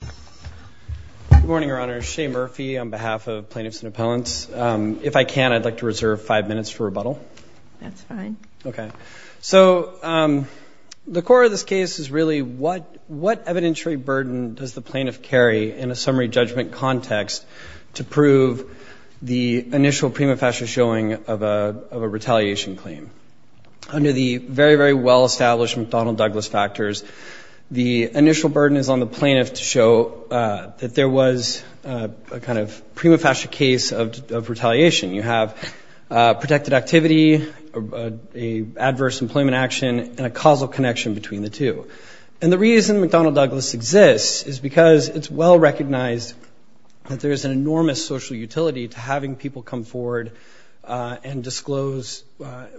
Good morning, Your Honor. Shane Murphy on behalf of Plaintiffs and Appellants. If I can, I'd like to reserve five minutes for rebuttal. That's fine. Okay. So the core of this case is really what evidentiary burden does the plaintiff carry in a summary judgment context to prove the initial prima facie showing of a retaliation claim? Under the very, very well-established McDonnell-Douglas factors, the initial burden is on the plaintiff to show that there was a kind of prima facie case of retaliation. You have protected activity, an adverse employment action, and a causal connection between the two. And the reason McDonnell-Douglas exists is because it's well-recognized that there is an enormous social utility to having people come forward and disclose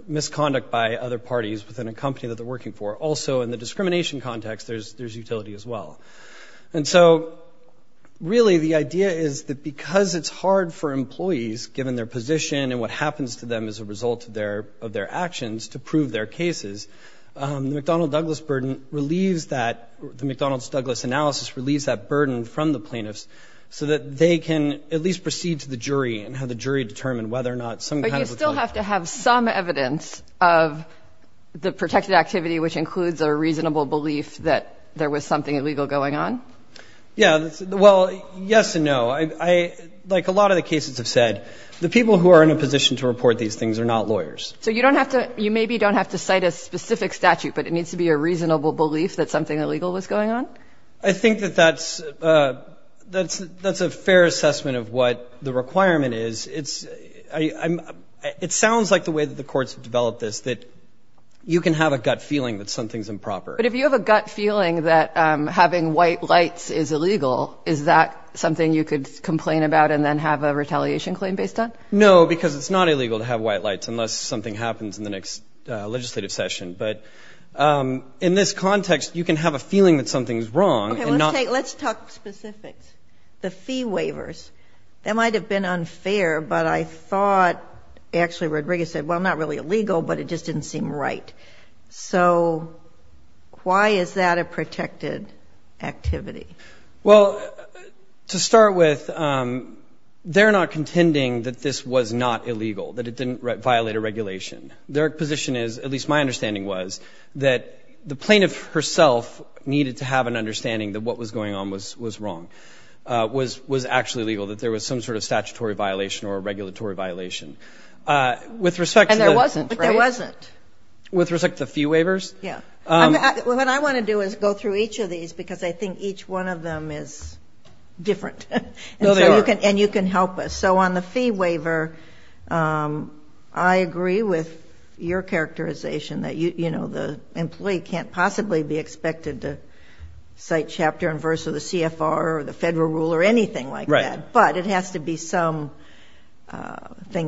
misconduct by other parties within a company that they're working for. Also, in the discrimination context, there's utility as well. And so, really, the idea is that because it's hard for employees, given their position and what happens to them as a result of their actions, to prove their cases, the McDonnell-Douglas burden relieves that, the McDonnell-Douglas analysis relieves that burden from the plaintiffs so that they can at least proceed to the jury and have the jury determine whether or not some kind of retaliation. Do you have to have some evidence of the protected activity, which includes a reasonable belief that there was something illegal going on? Yeah. Well, yes and no. Like a lot of the cases have said, the people who are in a position to report these things are not lawyers. So you maybe don't have to cite a specific statute, but it needs to be a reasonable belief that something illegal was going on? I think that that's a fair assessment of what the requirement is. It sounds like the way that the courts have developed this, that you can have a gut feeling that something's improper. But if you have a gut feeling that having white lights is illegal, is that something you could complain about and then have a retaliation claim based on? No, because it's not illegal to have white lights unless something happens in the next legislative session. But in this context, you can have a feeling that something's wrong. Okay. Let's talk specifics. The fee waivers. That might have been unfair, but I thought actually Rodriguez said, well, not really illegal, but it just didn't seem right. So why is that a protected activity? Well, to start with, they're not contending that this was not illegal, that it didn't violate a regulation. Their position is, at least my understanding was, that the plaintiff herself needed to have an understanding that what was going on was wrong, was actually legal, that there was some sort of statutory violation or regulatory violation. And there wasn't, right? There wasn't. With respect to the fee waivers? Yeah. What I want to do is go through each of these because I think each one of them is different. No, they are. And you can help us. So on the fee waiver, I agree with your characterization that, you know, the employee can't possibly be expected to cite chapter and verse of the CFR or the federal rule or anything like that. Right. But it has to be something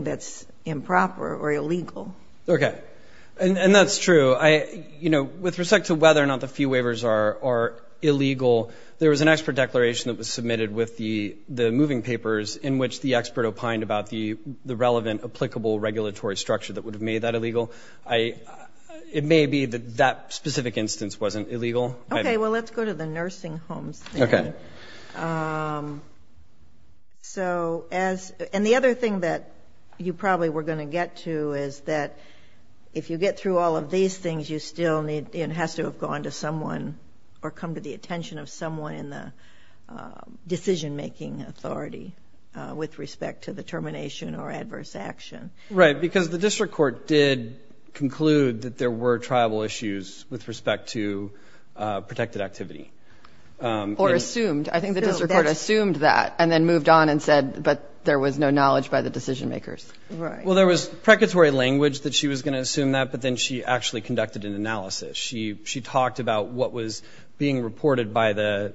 that's improper or illegal. Okay. And that's true. You know, with respect to whether or not the fee waivers are illegal, there was an expert declaration that was submitted with the moving papers in which the expert opined about the relevant, applicable regulatory structure that would have made that illegal. It may be that that specific instance wasn't illegal. Okay. Well, let's go to the nursing homes. Okay. And the other thing that you probably were going to get to is that if you get through all of these things, you still need and has to have gone to someone or come to the attention of someone in the decision-making authority with respect to the termination or adverse action. Right. Because the district court did conclude that there were tribal issues with respect to protected activity. Or assumed. I think the district court assumed that and then moved on and said, but there was no knowledge by the decision-makers. Right. Well, there was precatory language that she was going to assume that, but then she actually conducted an analysis. She talked about what was being reported by the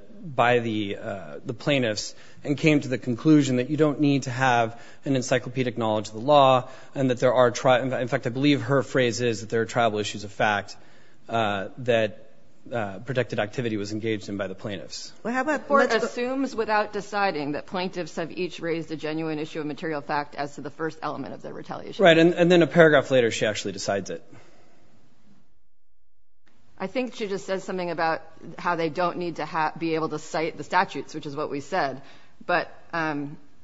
plaintiffs and came to the conclusion that you don't need to have an encyclopedic knowledge of the law and that there are, in fact, I believe her phrase is that there are tribal issues of fact that protected activity was engaged in by the plaintiffs. The court assumes without deciding that plaintiffs have each raised a genuine issue of material fact as to the first element of their retaliation. Right. And then a paragraph later, she actually decides it. I think she just says something about how they don't need to be able to cite the statutes, which is what we said.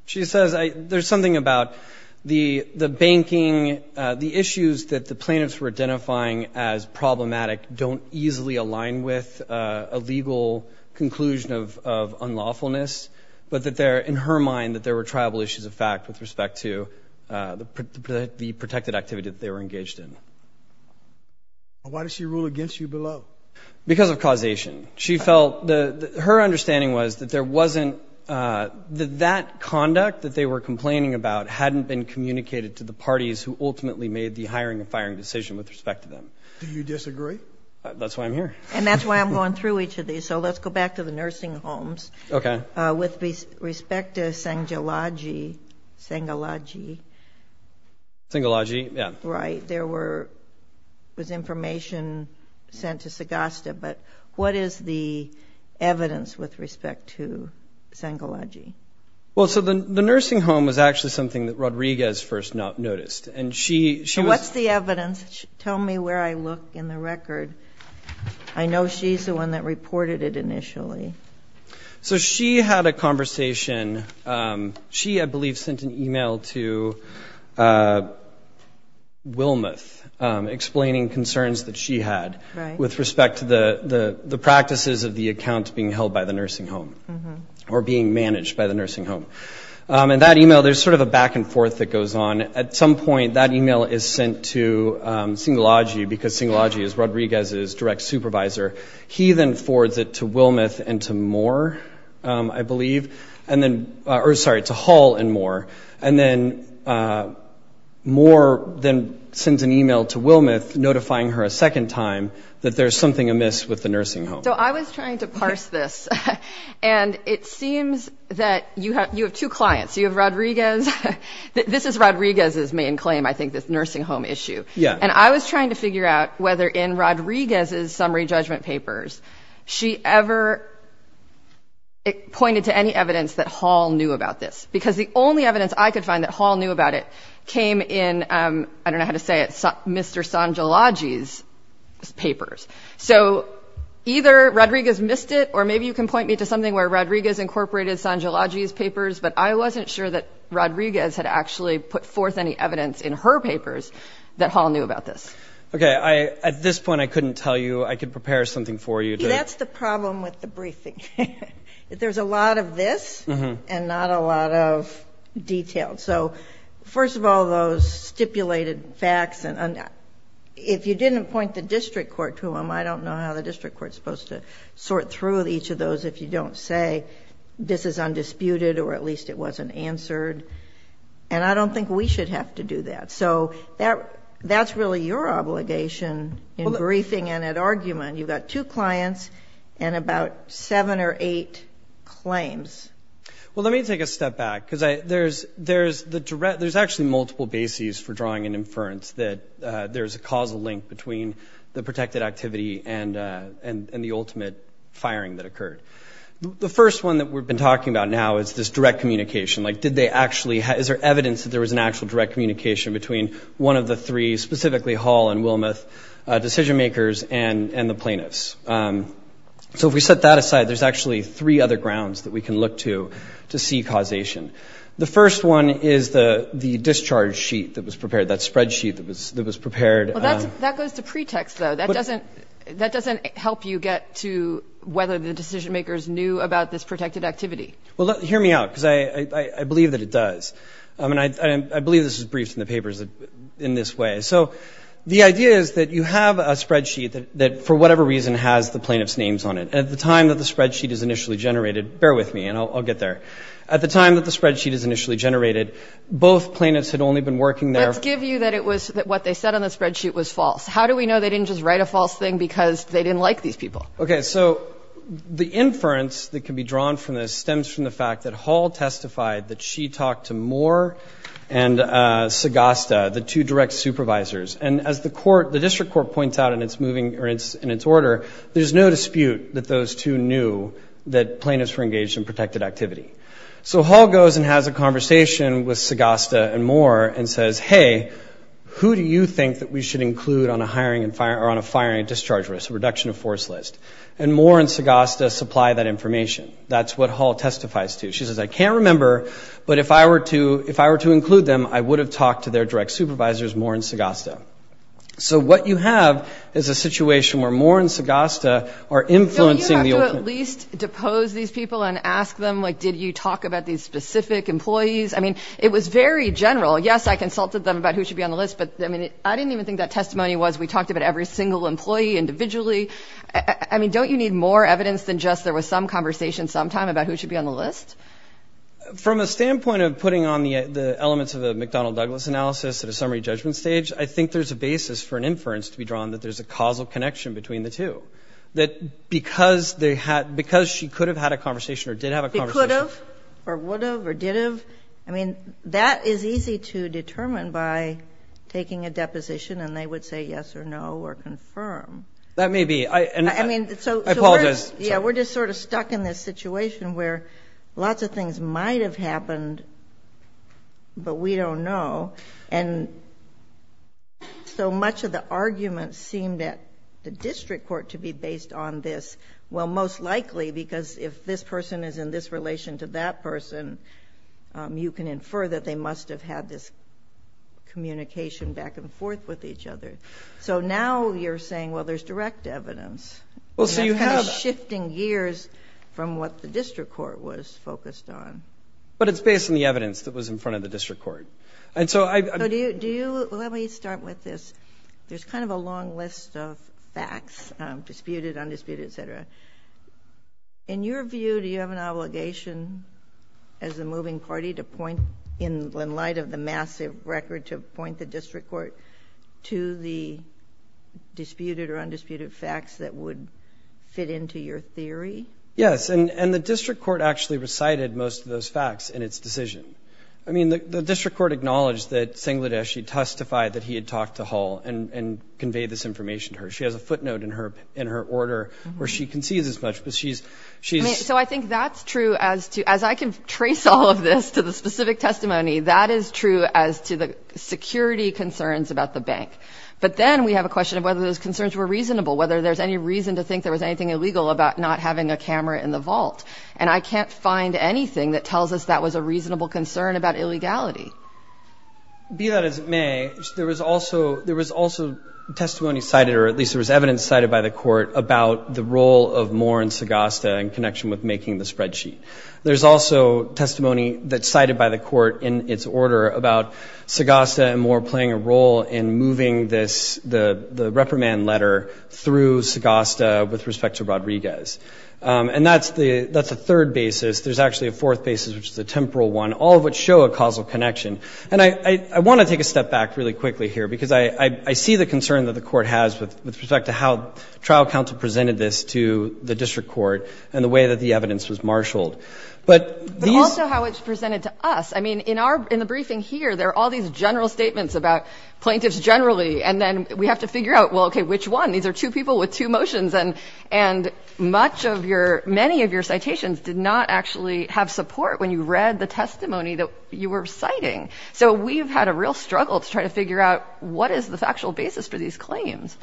She says there's something about the banking, the issues that the plaintiffs were identifying as problematic don't easily align with a legal conclusion of unlawfulness, but that there, in her mind, that there were tribal issues of fact with respect to the protected activity that they were engaged in. Why did she rule against you below? Because of causation. She felt, her understanding was that there wasn't, that that conduct that they were complaining about hadn't been communicated to the parties who ultimately made the hiring and firing decision with respect to them. Do you disagree? That's why I'm here. And that's why I'm going through each of these. So let's go back to the nursing homes. Okay. With respect to Sangalaji, Sangalaji. Sangalaji, yeah. Right. There was information sent to Sagasta, but what is the evidence with respect to Sangalaji? Well, so the nursing home was actually something that Rodriguez first noticed, and she was... So what's the evidence? Tell me where I look in the record. I know she's the one that reported it initially. So she had a conversation. She, I believe, sent an email to Wilmoth explaining concerns that she had with respect to the practices of the account being held by the nursing home or being managed by the nursing home. And that email, there's sort of a back and forth that goes on. At some point, that email is sent to Sangalaji because Sangalaji is Rodriguez's direct supervisor. He then forwards it to Wilmoth and to Moore, I believe, and then, or sorry, to Hall and Moore. And then Moore then sends an email to Wilmoth notifying her a second time that there's something amiss with the nursing home. So I was trying to parse this, and it seems that you have two clients. You have Rodriguez. This is Rodriguez's main claim, I think, this nursing home issue. Yeah. And I was trying to figure out whether in Rodriguez's summary judgment papers she ever pointed to any evidence that Hall knew about this. Because the only evidence I could find that Hall knew about it came in, I don't know how to say it, Mr. Sangalaji's papers. So either Rodriguez missed it, or maybe you can point me to something where Rodriguez incorporated Sangalaji's papers, but I wasn't sure that Rodriguez had actually put forth any evidence in her papers that Hall knew about this. Okay. At this point, I couldn't tell you. I could prepare something for you. See, that's the problem with the briefing. There's a lot of this and not a lot of detail. So first of all, those stipulated facts, if you didn't point the district court to them, I don't know how the district court is supposed to sort through each of those if you don't say this is undisputed or at least it wasn't answered. And I don't think we should have to do that. So that's really your obligation in briefing and at argument. You've got two clients and about seven or eight claims. Well, let me take a step back, because there's actually multiple bases for drawing an inference that there's a causal link between the protected activity and the ultimate firing that occurred. The first one that we've been talking about now is this direct communication. Like, did they actually, is there evidence that there was an actual direct communication between one of the three, specifically Hall and Wilmoth, decision makers and the plaintiffs? So if we set that aside, there's actually three other grounds that we can look to to see causation. The first one is the discharge sheet that was prepared, that spreadsheet that was prepared. That goes to pretext, though. That doesn't help you get to whether the decision makers knew about this protected activity. Well, hear me out, because I believe that it does. I mean, I believe this is briefed in the papers in this way. So the idea is that you have a spreadsheet that for whatever reason has the plaintiff's names on it. At the time that the spreadsheet is initially generated, bear with me and I'll get there. At the time that the spreadsheet is initially generated, both plaintiffs had only been working there. Let's give you that it was, that what they said on the spreadsheet was false. How do we know they didn't just write a false thing because they didn't like these people? Okay, so the inference that can be drawn from this stems from the fact that Hall testified that she talked to Moore and Sagasta, the two direct supervisors. And as the court, the district court points out in its moving, or in its order, there's no dispute that those two knew that plaintiffs were engaged in protected activity. So Hall goes and has a conversation with Sagasta and Moore and says, hey, who do you think that we should include on a hiring and, or on a firing and discharge risk, a reduction of force list? And Moore and Sagasta supply that information. That's what Hall testifies to. She says, I can't remember, but if I were to, if I were to include them, I would have talked to their direct supervisors, Moore and Sagasta. So what you have is a situation where Moore and Sagasta are influencing the. At least depose these people and ask them, like, did you talk about these specific employees? I mean, it was very general. Yes, I consulted them about who should be on the list, but I mean, I didn't even think that testimony was we talked about every single employee individually. I mean, don't you need more evidence than just there was some conversation sometime about who should be on the list? From a standpoint of putting on the elements of a McDonnell Douglas analysis at a summary judgment stage, I think there's a basis for an inference to be drawn that there's a causal connection between the two. That because they had, because she could have had a conversation or did have a conversation. Could have or would have or did have. I mean, that is easy to determine by taking a deposition and they would say yes or no or confirm. That may be. I mean, I apologize. Yeah, we're just sort of stuck in this situation where lots of things might have happened. But we don't know. And so much of the argument seemed at the district court to be based on this. Well, most likely, because if this person is in this relation to that person, you can infer that they must have had this communication back and forth with each other. So now you're saying, well, there's direct evidence. Well, so you have. That's kind of shifting gears from what the district court was focused on. But it's based on the evidence that was in front of the district court. And so I. Do you, let me start with this. There's kind of a long list of facts, disputed, undisputed, et cetera. In your view, do you have an obligation as a moving party to point in light of the massive record to point the district court to the disputed or undisputed facts that would fit into your theory? Yes. And the district court actually recited most of those facts in its decision. I mean, the district court acknowledged that Sengledeshi testified that he had talked to Hull and conveyed this information to her. She has a footnote in her order where she concedes as much, but she's. So I think that's true as to, as I can trace all of this to the specific testimony, that is true as to the security concerns about the bank. But then we have a question of whether those concerns were reasonable, whether there's any reason to think there was anything illegal about not having a camera in the vault. And I can't find anything that tells us that was a reasonable concern about illegality. Be that as it may, there was also testimony cited, or at least there was evidence cited by the court, about the role of Moore and Segosta in connection with making the spreadsheet. There's also testimony that's cited by the court in its order about Segosta and Moore playing a role in moving this, the reprimand letter through Segosta with respect to Rodriguez. And that's the third basis. There's actually a fourth basis, which is a temporal one, all of which show a causal connection. And I want to take a step back really quickly here, because I see the concern that the court has with respect to how trial counsel presented this to the district court and the way that the evidence was marshaled. But these — But also how it's presented to us. I mean, in our, in the briefing here, there are all these general statements about plaintiffs generally, and then we have to figure out, well, okay, which one? These are two people with two motions, and much of your, many of your citations did not actually have support when you read the testimony that you were citing. So we've had a real struggle to try to figure out what is the factual basis for these claims.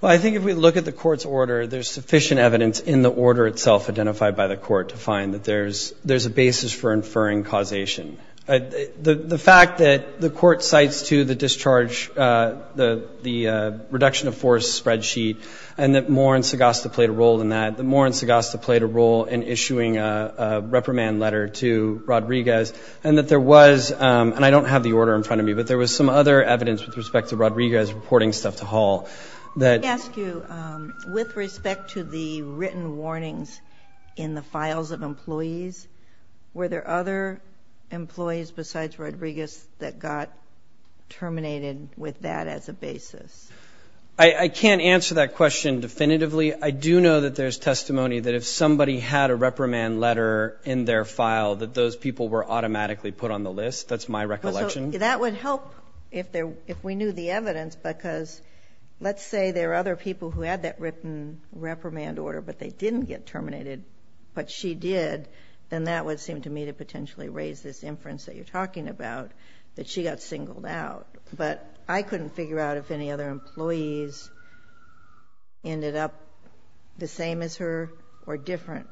Well, I think if we look at the court's order, there's sufficient evidence in the order itself identified by the court to find that there's a basis for inferring causation. The fact that the court cites, too, the discharge, the reduction of force spreadsheet, and that more in Segosta played a role in that, that more in Segosta played a role in issuing a reprimand letter to Rodriguez, and that there was — and I don't have the order in front of me, but there was some other evidence with respect to Rodriguez reporting stuff to Hall that — Let me ask you, with respect to the written warnings in the files of employees, were there other employees besides Rodriguez that got terminated with that as a basis? I can't answer that question definitively. I do know that there's testimony that if somebody had a reprimand letter in their file, that those people were automatically put on the list. That's my recollection. So that would help if we knew the evidence, because let's say there are other people who had that written reprimand order, but they didn't get terminated, but she did, then that would seem to me to potentially raise this inference that you're talking about, that she got singled out. But I couldn't figure out if any other employees ended up the same as her or different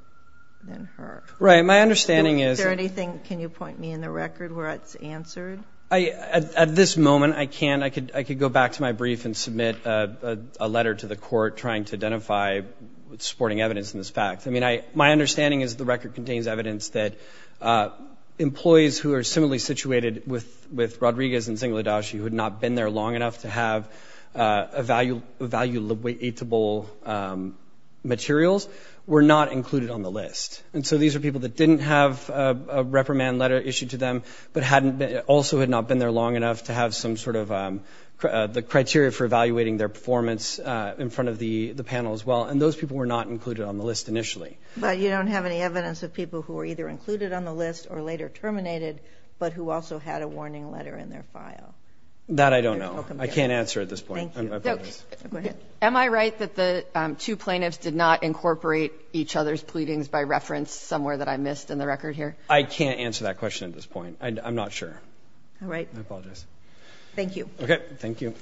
than her. Right. My understanding is — Is there anything, can you point me in the record, where it's answered? At this moment, I can't. I could go back to my brief and submit a letter to the court trying to identify supporting evidence in this fact. I mean, my understanding is the record contains evidence that employees who are similarly situated with Rodriguez and Zingaledashi who had not been there long enough to have evaluatable materials were not included on the list. And so these are people that didn't have a reprimand letter issued to them, but also had not been there long enough to have some sort of the criteria for evaluating their performance in front of the panel as well. And those people were not included on the list initially. But you don't have any evidence of people who were either included on the list or later terminated, but who also had a warning letter in their file. That I don't know. I can't answer at this point. Thank you. Go ahead. Am I right that the two plaintiffs did not incorporate each other's pleadings by reference somewhere that I missed in the record here? I can't answer that question at this point. I'm not sure. All right. I apologize. Thank you. Okay. Thank you.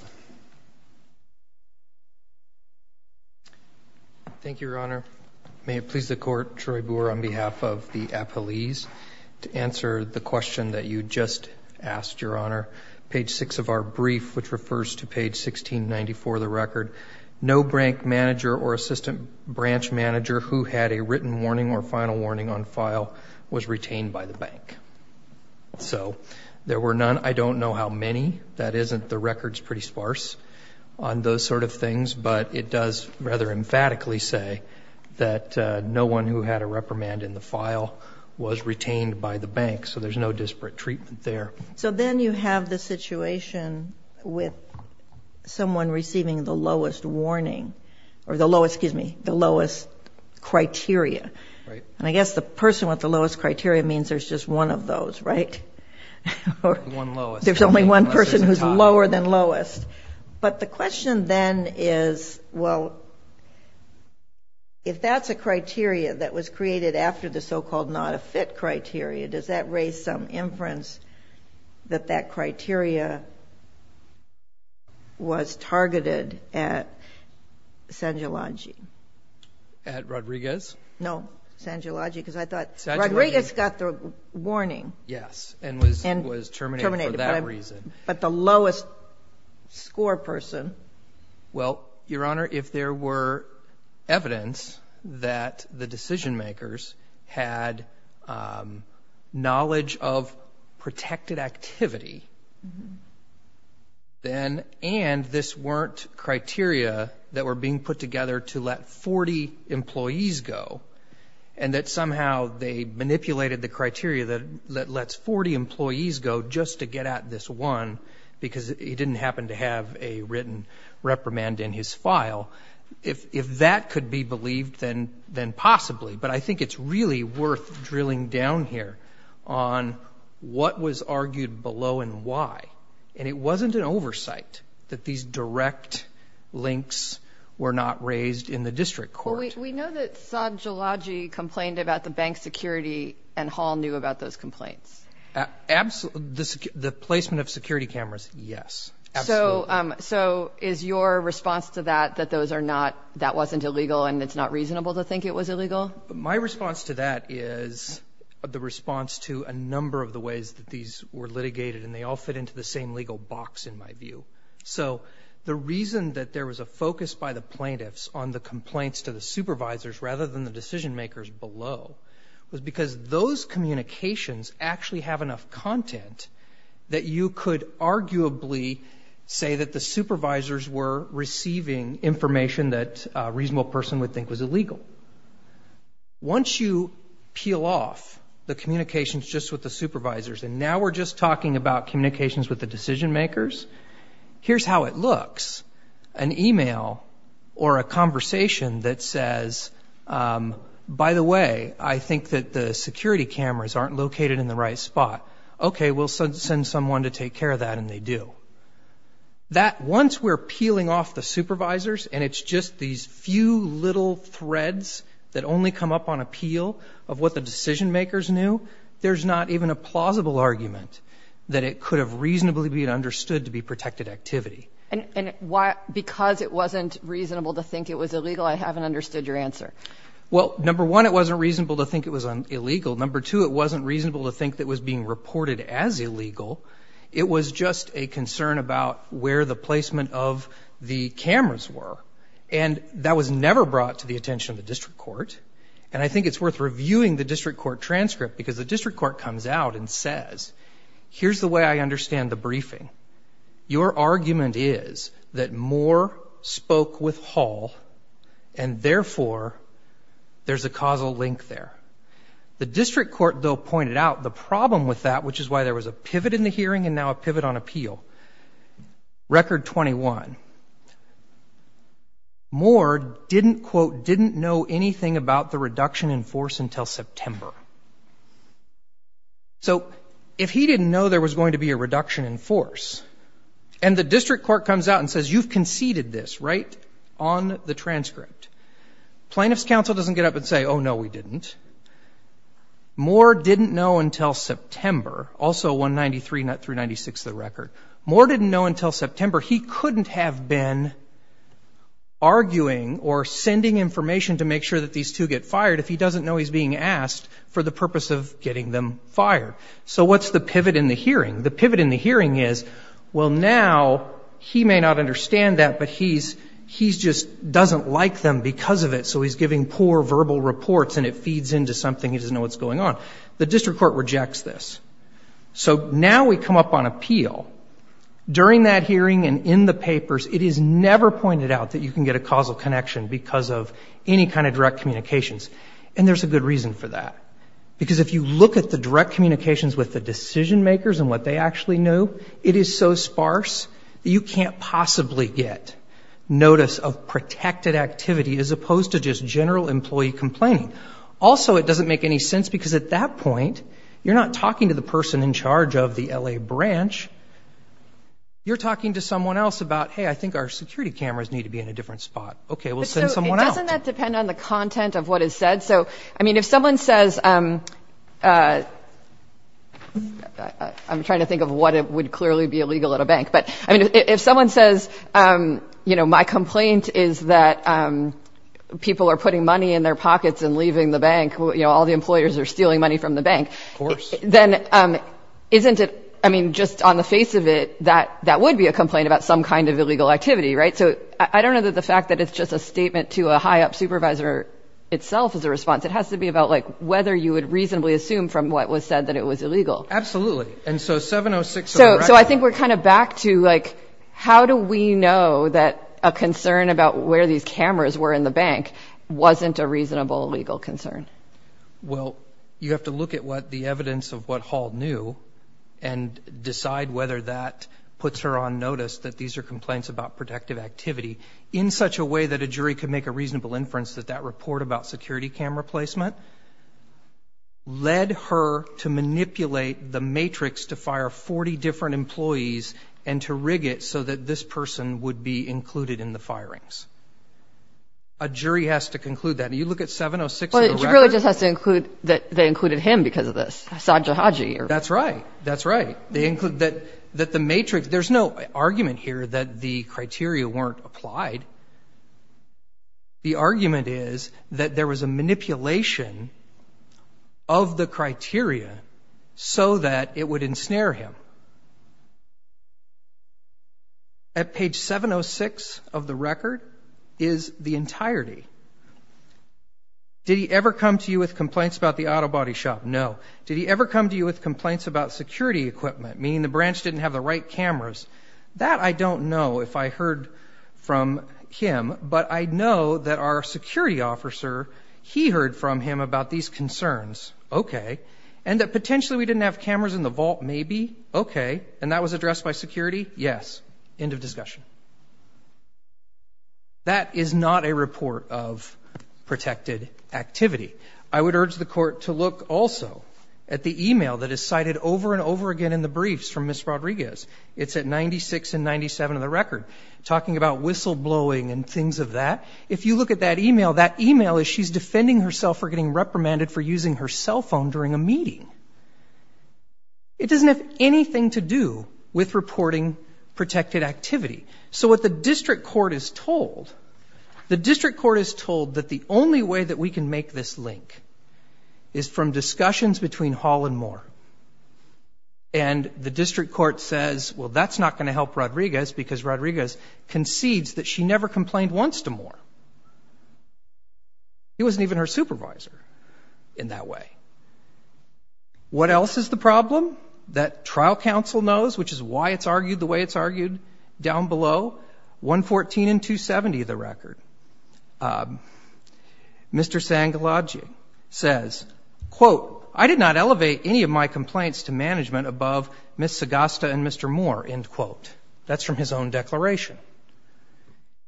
Thank you, Your Honor. May it please the Court, Troy Boer on behalf of the appellees, to answer the question that you just asked, Your Honor. Page 6 of our brief, which refers to page 1694 of the record, no bank manager or assistant branch manager who had a written warning or final warning on file was retained by the bank. So there were none. I don't know how many. That isn't the record's pretty sparse on those sort of things. But it does rather emphatically say that no one who had a reprimand in the file was retained by the bank. So there's no disparate treatment there. So then you have the situation with someone receiving the lowest warning or the lowest criteria. And I guess the person with the lowest criteria means there's just one of those, right? One lowest. There's only one person who's lower than lowest. But the question then is, well, if that's a criteria that was created after the so-called not-a-fit criteria, does that raise some inference that that criteria was targeted at Sangiology? At Rodriguez? No, Sangiology, because I thought Rodriguez got the warning. Yes, and was terminated for that reason. But the lowest score person. Well, Your Honor, if there were evidence that the decision-makers had knowledge of protected activity, and this weren't criteria that were being put together to let 40 employees go, and that somehow they manipulated the criteria that lets 40 employees go just to get at this one, because he didn't happen to have a written reprimand in his file, if that could be believed, then possibly. But I think it's really worth drilling down here on what was argued below and why. And it wasn't an oversight that these direct links were not raised in the district court. Well, we know that Sangiology complained about the bank security and Hall knew about those complaints. The placement of security cameras, yes. Absolutely. So is your response to that that that wasn't illegal and it's not reasonable to think it was illegal? My response to that is the response to a number of the ways that these were litigated, and they all fit into the same legal box, in my view. So the reason that there was a focus by the plaintiffs on the complaints to the supervisors rather than the decision-makers below was because those communications actually have enough content that you could arguably say that the supervisors were receiving information that a reasonable person would think was illegal. Once you peel off the communications just with the supervisors and now we're just talking about communications with the decision-makers, here's how it looks. An e-mail or a conversation that says, by the way, I think that the security cameras aren't located in the right spot. Okay, we'll send someone to take care of that, and they do. Once we're peeling off the supervisors and it's just these few little threads that only come up on appeal of what the decision-makers knew, there's not even a plausible argument that it could have reasonably been understood to be protected activity. And because it wasn't reasonable to think it was illegal, I haven't understood your answer. Well, number one, it wasn't reasonable to think it was illegal. Number two, it wasn't reasonable to think that it was being reported as illegal. It was just a concern about where the placement of the cameras were, and that was never brought to the attention of the district court. And I think it's worth reviewing the district court transcript because the district court comes out and says, here's the way I understand the briefing. Your argument is that Moore spoke with Hall, and therefore, there's a causal link there. The district court, though, pointed out the problem with that, which is why there was a pivot in the hearing and now a pivot on appeal. Record 21. Moore didn't, quote, didn't know anything about the reduction in force until September. So if he didn't know there was going to be a reduction in force, and the district court comes out and says, you've conceded this, right, on the transcript, plaintiff's counsel doesn't get up and say, oh, no, we didn't. Moore didn't know until September, also 193 through 96 of the record. Moore didn't know until September. He couldn't have been arguing or sending information to make sure that these two get fired if he doesn't know he's being asked for the purpose of getting them fired. So what's the pivot in the hearing? The pivot in the hearing is, well, now he may not understand that, but he just doesn't like them because of it, so he's giving poor verbal reports and it feeds into something he doesn't know what's going on. The district court rejects this. So now we come up on appeal. During that hearing and in the papers, it is never pointed out that you can get a causal connection because of any kind of direct communications, and there's a good reason for that. Because if you look at the direct communications with the decision makers and what they actually knew, it is so sparse that you can't possibly get notice of protected activity as opposed to just general employee complaining. Also, it doesn't make any sense because at that point, you're not talking to the person in charge of the L.A. branch. You're talking to someone else about, hey, I think our security cameras need to be in a different spot. Okay, we'll send someone else. But, so, doesn't that depend on the content of what is said? So, I mean, if someone says, I'm trying to think of what would clearly be illegal at a bank. But, I mean, if someone says, you know, my complaint is that people are putting money in their pockets and leaving the bank, you know, all the employers are stealing money from the bank. Of course. Then, isn't it, I mean, just on the face of it, that would be a complaint about some kind of illegal activity, right? So, I don't know that the fact that it's just a statement to a high-up supervisor itself is a response. It has to be about, like, whether you would reasonably assume from what was said that it was illegal. Absolutely. And so, 706. So, I think we're kind of back to, like, how do we know that a concern about where these cameras were in the bank wasn't a reasonable legal concern? Well, you have to look at what the evidence of what Hall knew and decide whether that puts her on notice that these are complaints about protective activity in such a way that a jury could make a reasonable inference that that report about security camera placement led her to manipulate the matrix to fire 40 different employees and to rig it so that this person would be included in the firings. A jury has to conclude that. I mean, you look at 706 of the record. But a jury just has to conclude that they included him because of this. That's right. That's right. They include that the matrix, there's no argument here that the criteria weren't applied. The argument is that there was a manipulation of the criteria so that it would ensnare him. At page 706 of the record is the entirety. Did he ever come to you with complaints about the auto body shop? No. Did he ever come to you with complaints about security equipment, meaning the branch didn't have the right cameras? That I don't know if I heard from him. But I know that our security officer, he heard from him about these concerns. Okay. And that potentially we didn't have cameras in the vault, maybe. Okay. And that was addressed by security? Yes. End of discussion. That is not a report of protected activity. I would urge the court to look also at the e-mail that is cited over and over again in the briefs from Ms. Rodriguez. It's at 96 and 97 of the record, talking about whistleblowing and things of that. If you look at that e-mail, that e-mail is she's defending herself for getting reprimanded for using her cell phone during a meeting. It doesn't have anything to do with reporting protected activity. So what the district court is told, the district court is told that the only way that we can make this link is from discussions between Hall and Moore. And the district court says, well, that's not going to help Rodriguez He wasn't even her supervisor in that way. What else is the problem that trial counsel knows, which is why it's argued the way it's argued down below, 114 and 270 of the record? Mr. Sangalaji says, quote, I did not elevate any of my complaints to management above Ms. Sagasta and Mr. Moore, end quote. That's from his own declaration.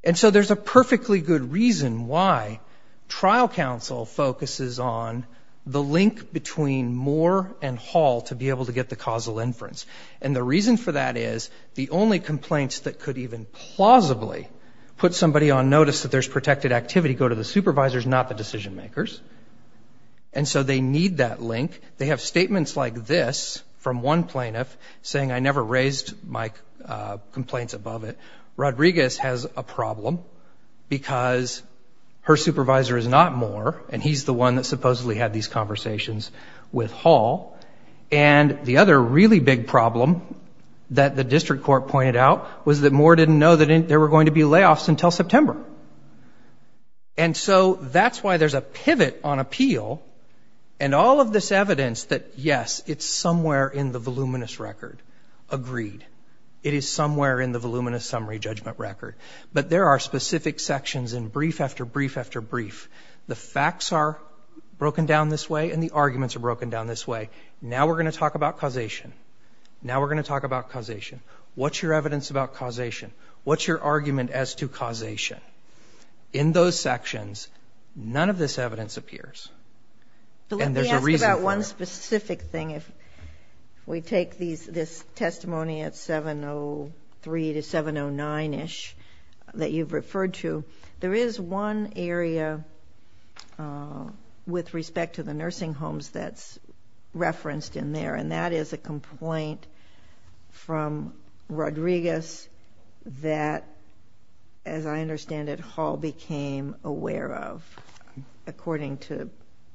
And so there's a perfectly good reason why trial counsel focuses on the link between Moore and Hall to be able to get the causal inference. And the reason for that is the only complaints that could even plausibly put somebody on notice that there's protected activity go to the supervisors, not the decision makers. And so they need that link. They have statements like this from one plaintiff saying, I never raised my complaints above it. Rodriguez has a problem because her supervisor is not Moore, and he's the one that supposedly had these conversations with Hall. And the other really big problem that the district court pointed out was that Moore didn't know that there were going to be layoffs until September. And so that's why there's a pivot on appeal and all of this evidence that, yes, it's somewhere in the voluminous record, agreed. It is somewhere in the voluminous summary judgment record. But there are specific sections in brief after brief after brief. The facts are broken down this way and the arguments are broken down this way. Now we're going to talk about causation. Now we're going to talk about causation. What's your evidence about causation? What's your argument as to causation? In those sections, none of this evidence appears. And there's a reason for it. Let me ask about one specific thing. If we take this testimony at 703 to 709-ish that you've referred to, there is one area with respect to the nursing homes that's referenced in there, and that is a complaint from Rodriguez that, as I understand it, Hall became aware of, according to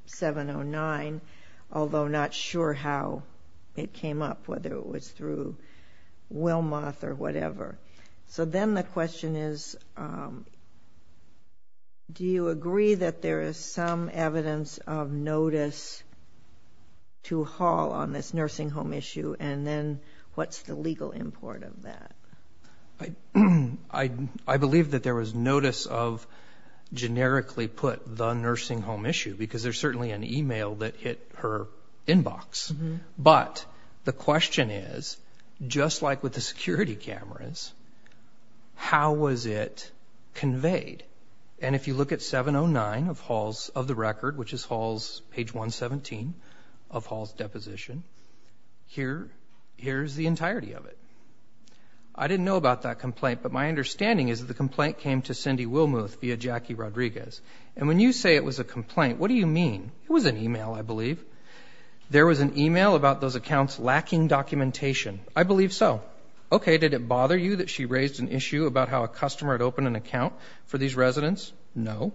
709, although not sure how it came up, whether it was through Wilmoth or whatever. So then the question is, do you agree that there is some evidence of notice to Hall on this nursing home issue, and then what's the legal import of that? I believe that there was notice of, generically put, the nursing home issue because there's certainly an email that hit her inbox. But the question is, just like with the security cameras, how was it conveyed? And if you look at 709 of the record, which is Hall's page 117 of Hall's deposition, here's the entirety of it. I didn't know about that complaint, but my understanding is that the complaint came to Cindy Wilmoth via Jackie Rodriguez. And when you say it was a complaint, what do you mean? It was an email, I believe. There was an email about those accounts lacking documentation. I believe so. Okay, did it bother you that she raised an issue about how a customer had opened an account for these residents? No.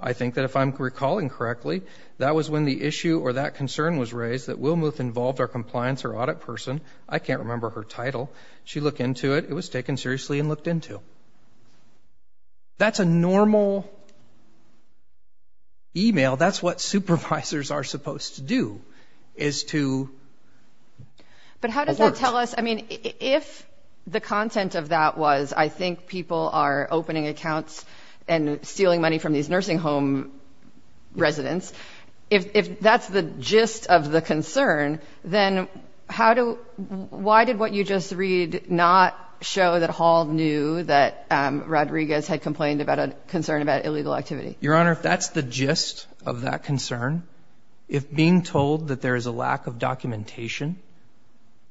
I think that if I'm recalling correctly, that was when the issue or that concern was raised that Wilmoth involved our compliance or audit person. I can't remember her title. She looked into it. It was taken seriously and looked into. That's a normal email. That's what supervisors are supposed to do is to alert. But how does that tell us? I mean, if the content of that was, I think people are opening accounts and stealing money from these nursing home residents, if that's the gist of the concern, then why did what you just read not show that Hall knew that Rodriguez had complained about a concern about illegal activity? Your Honor, if that's the gist of that concern, if being told that there is a lack of documentation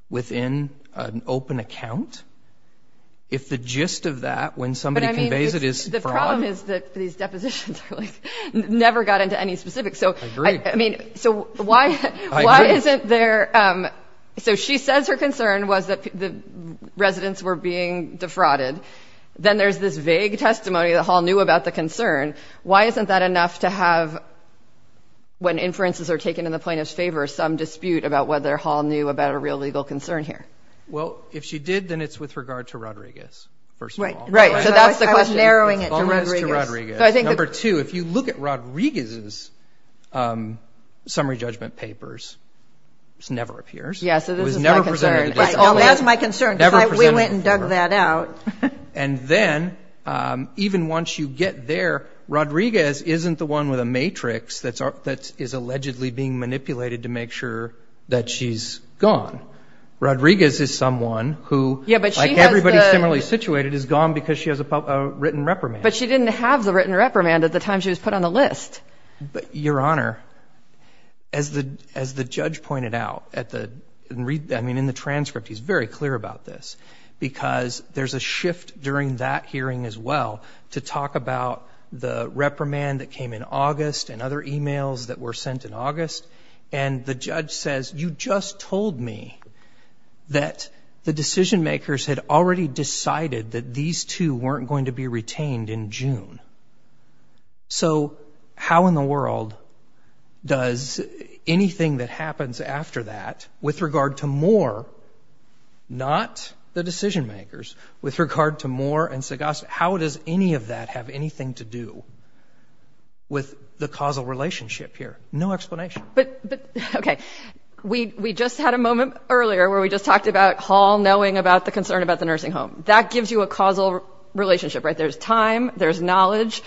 within an open account, if the gist of that when somebody conveys it is fraud. The problem is that these depositions never got into any specifics. I agree. I mean, so why isn't there? So she says her concern was that the residents were being defrauded. Then there's this vague testimony that Hall knew about the concern. Why isn't that enough to have, when inferences are taken in the plaintiff's favor, some dispute about whether Hall knew about a real legal concern here? Well, if she did, then it's with regard to Rodriguez, first of all. Right. So that's the question. I was narrowing it to Rodriguez. It's always to Rodriguez. Number two, if you look at Rodriguez's summary judgment papers, it never appears. Yeah, so this is my concern. It was never presented to the district court. That's my concern because we went and dug that out. And then, even once you get there, Rodriguez isn't the one with a matrix that is allegedly being manipulated to make sure that she's gone. Rodriguez is someone who, like everybody similarly situated, is gone because she has a written reprimand. But she didn't have the written reprimand at the time she was put on the list. Your Honor, as the judge pointed out in the transcript, he's very clear about this, because there's a shift during that hearing as well to talk about the reprimand that came in August and other e-mails that were sent in August. And the judge says, you just told me that the decision-makers had already decided that these two weren't going to be retained in June. So how in the world does anything that happens after that, with regard to Moore, not the decision-makers, with regard to Moore and Sagast, how does any of that have anything to do with the causal relationship here? No explanation. But, okay, we just had a moment earlier where we just talked about Hall knowing about the concern about the nursing home. That gives you a causal relationship, right? There's time, there's knowledge,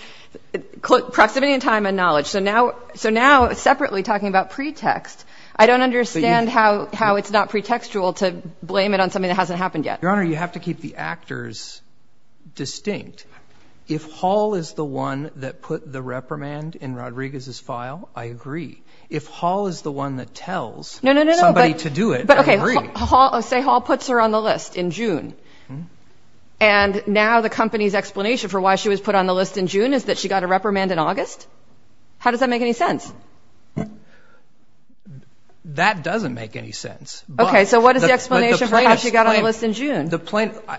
proximity in time and knowledge. So now separately talking about pretext, I don't understand how it's not pretextual to blame it on something that hasn't happened yet. Your Honor, you have to keep the actors distinct. If Hall is the one that put the reprimand in Rodriguez's file, I agree. If Hall is the one that tells somebody to do it, I agree. But, okay, say Hall puts her on the list in June, and now the company's explanation for why she was put on the list in June is that she got a reprimand in August? How does that make any sense? That doesn't make any sense. Okay, so what is the explanation for how she got on the list in June?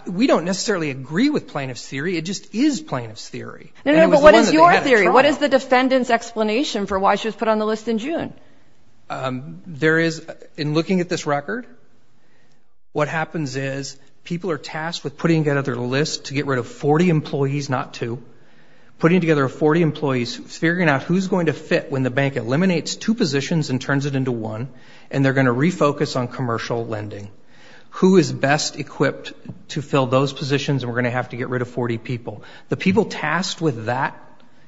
We don't necessarily agree with plaintiff's theory. It just is plaintiff's theory. No, no, but what is your theory? What is the defendant's explanation for why she was put on the list in June? There is, in looking at this record, what happens is people are tasked with putting together their list to get rid of 40 employees, not two, putting together 40 employees, figuring out who's going to fit when the bank eliminates two positions and turns it into one, and they're going to refocus on commercial lending. Who is best equipped to fill those positions, and we're going to have to get rid of 40 people? The people tasked with that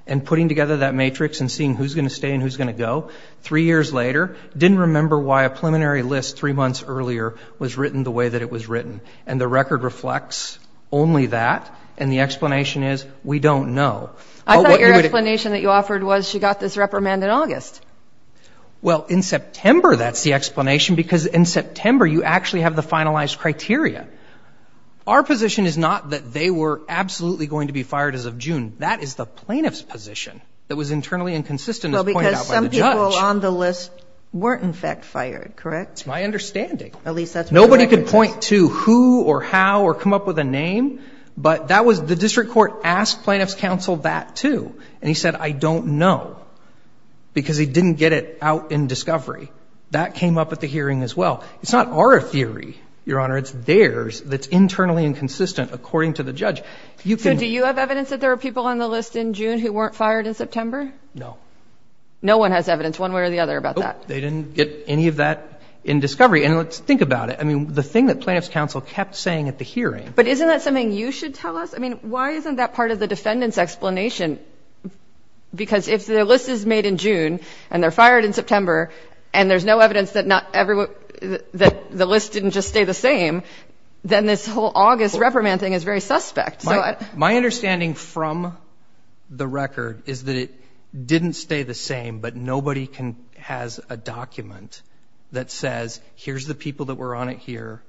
and putting together that matrix and seeing who's going to stay and who's going to go, three years later, didn't remember why a preliminary list three months earlier was written the way that it was written. And the record reflects only that, and the explanation is we don't know. I thought your explanation that you offered was she got this reprimand in August. Well, in September, that's the explanation, because in September, you actually have the finalized criteria. Our position is not that they were absolutely going to be fired as of June. That is the plaintiff's position that was internally inconsistent as pointed out by the judge. Well, because some people on the list weren't, in fact, fired, correct? That's my understanding. At least that's what the record says. Nobody could point to who or how or come up with a name, but that was the district court asked plaintiff's counsel that, too. And he said, I don't know, because he didn't get it out in discovery. That came up at the hearing as well. It's not our theory, Your Honor. It's theirs that's internally inconsistent, according to the judge. So do you have evidence that there were people on the list in June who weren't fired in September? No. No one has evidence one way or the other about that? Nope. They didn't get any of that in discovery. And let's think about it. I mean, the thing that plaintiff's counsel kept saying at the hearing. But isn't that something you should tell us? I mean, why isn't that part of the defendant's explanation? Because if the list is made in June and they're fired in September and there's no evidence that the list didn't just stay the same, then this whole August reprimand thing is very suspect. My understanding from the record is that it didn't stay the same, but nobody has a document that says, here's the people that were on it here.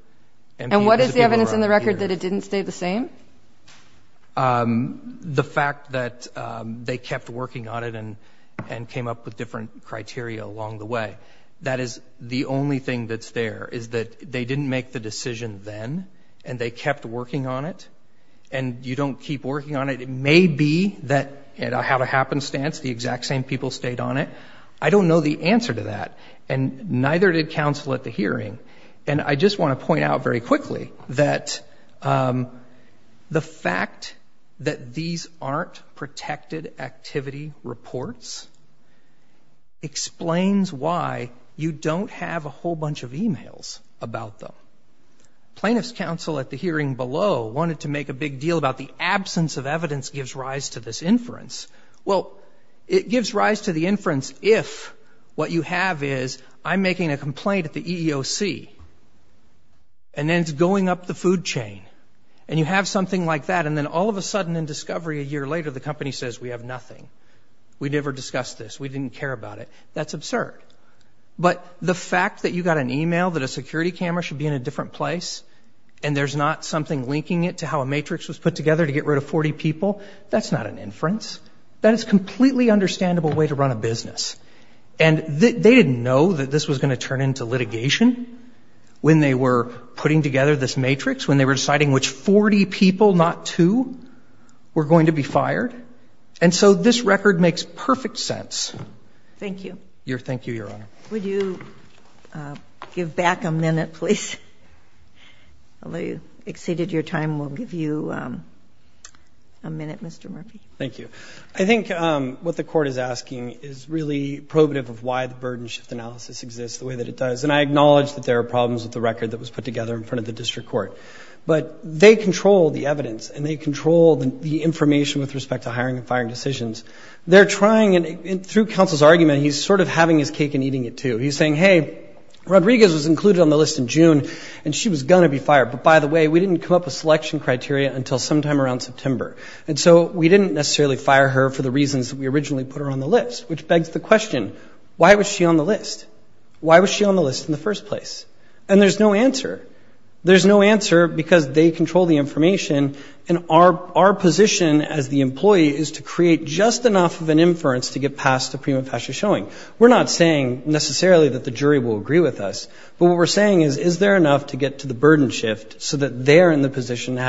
And what is the evidence in the record that it didn't stay the same? The fact that they kept working on it and came up with different criteria along the way. That is the only thing that's there, is that they didn't make the decision then and they kept working on it. And you don't keep working on it. It may be that it had a happenstance, the exact same people stayed on it. I don't know the answer to that. And neither did counsel at the hearing. And I just want to point out very quickly that the fact that these aren't protected activity reports explains why you don't have a whole bunch of e-mails about them. Plaintiff's counsel at the hearing below wanted to make a big deal about the absence of evidence gives rise to this inference. Well, it gives rise to the inference if what you have is I'm making a complaint at the EEOC, and then it's going up the food chain, and you have something like that, and then all of a sudden in discovery a year later the company says we have nothing. We never discussed this. We didn't care about it. That's absurd. But the fact that you got an e-mail that a security camera should be in a different place and there's not something linking it to how a matrix was put together to get rid of 40 people, that's not an inference. That is a completely understandable way to run a business. And they didn't know that this was going to turn into litigation when they were putting together this matrix, when they were deciding which 40 people, not two, were going to be fired. And so this record makes perfect sense. Thank you. Thank you, Your Honor. Would you give back a minute, please? Although you exceeded your time, we'll give you a minute, Mr. Murphy. Thank you. I think what the court is asking is really probative of why the burden shift analysis exists the way that it does. And I acknowledge that there are problems with the record that was put together in front of the district court. But they control the evidence, and they control the information with respect to hiring and firing decisions. They're trying, and through counsel's argument, he's sort of having his cake and eating it, too. He's saying, hey, Rodriguez was included on the list in June, and she was going to be fired. But, by the way, we didn't come up with selection criteria until sometime around September. And so we didn't necessarily fire her for the reasons that we originally put her on the list, which begs the question, why was she on the list? Why was she on the list in the first place? And there's no answer. There's no answer because they control the information, and our position as the employee is to create just enough of an inference to get past the prima facie showing. We're not saying necessarily that the jury will agree with us, but what we're saying is, is there enough to get to the burden shift so that they're in the position to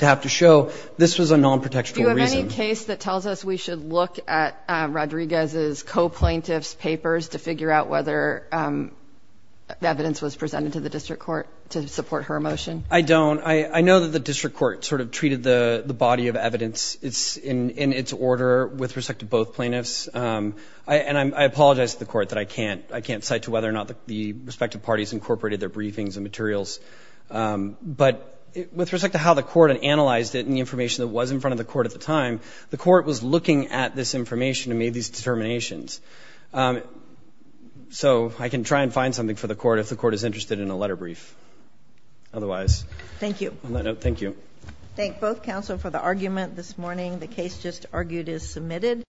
have to show this was a non-protectional reason? Do you have any case that tells us we should look at Rodriguez's co-plaintiff's papers to figure out whether the evidence was presented to the district court to support her motion? I don't. I know that the district court sort of treated the body of evidence in its order with respect to both plaintiffs, and I apologize to the court that I can't cite to whether or not the respective parties incorporated their briefings and materials. But with respect to how the court analyzed it and the information that was in front of the court at the time, the court was looking at this information and made these determinations. So I can try and find something for the court if the court is interested in a letter brief. Otherwise. Thank you. Thank you. Thank both counsel for the argument this morning. The case just argued is submitted.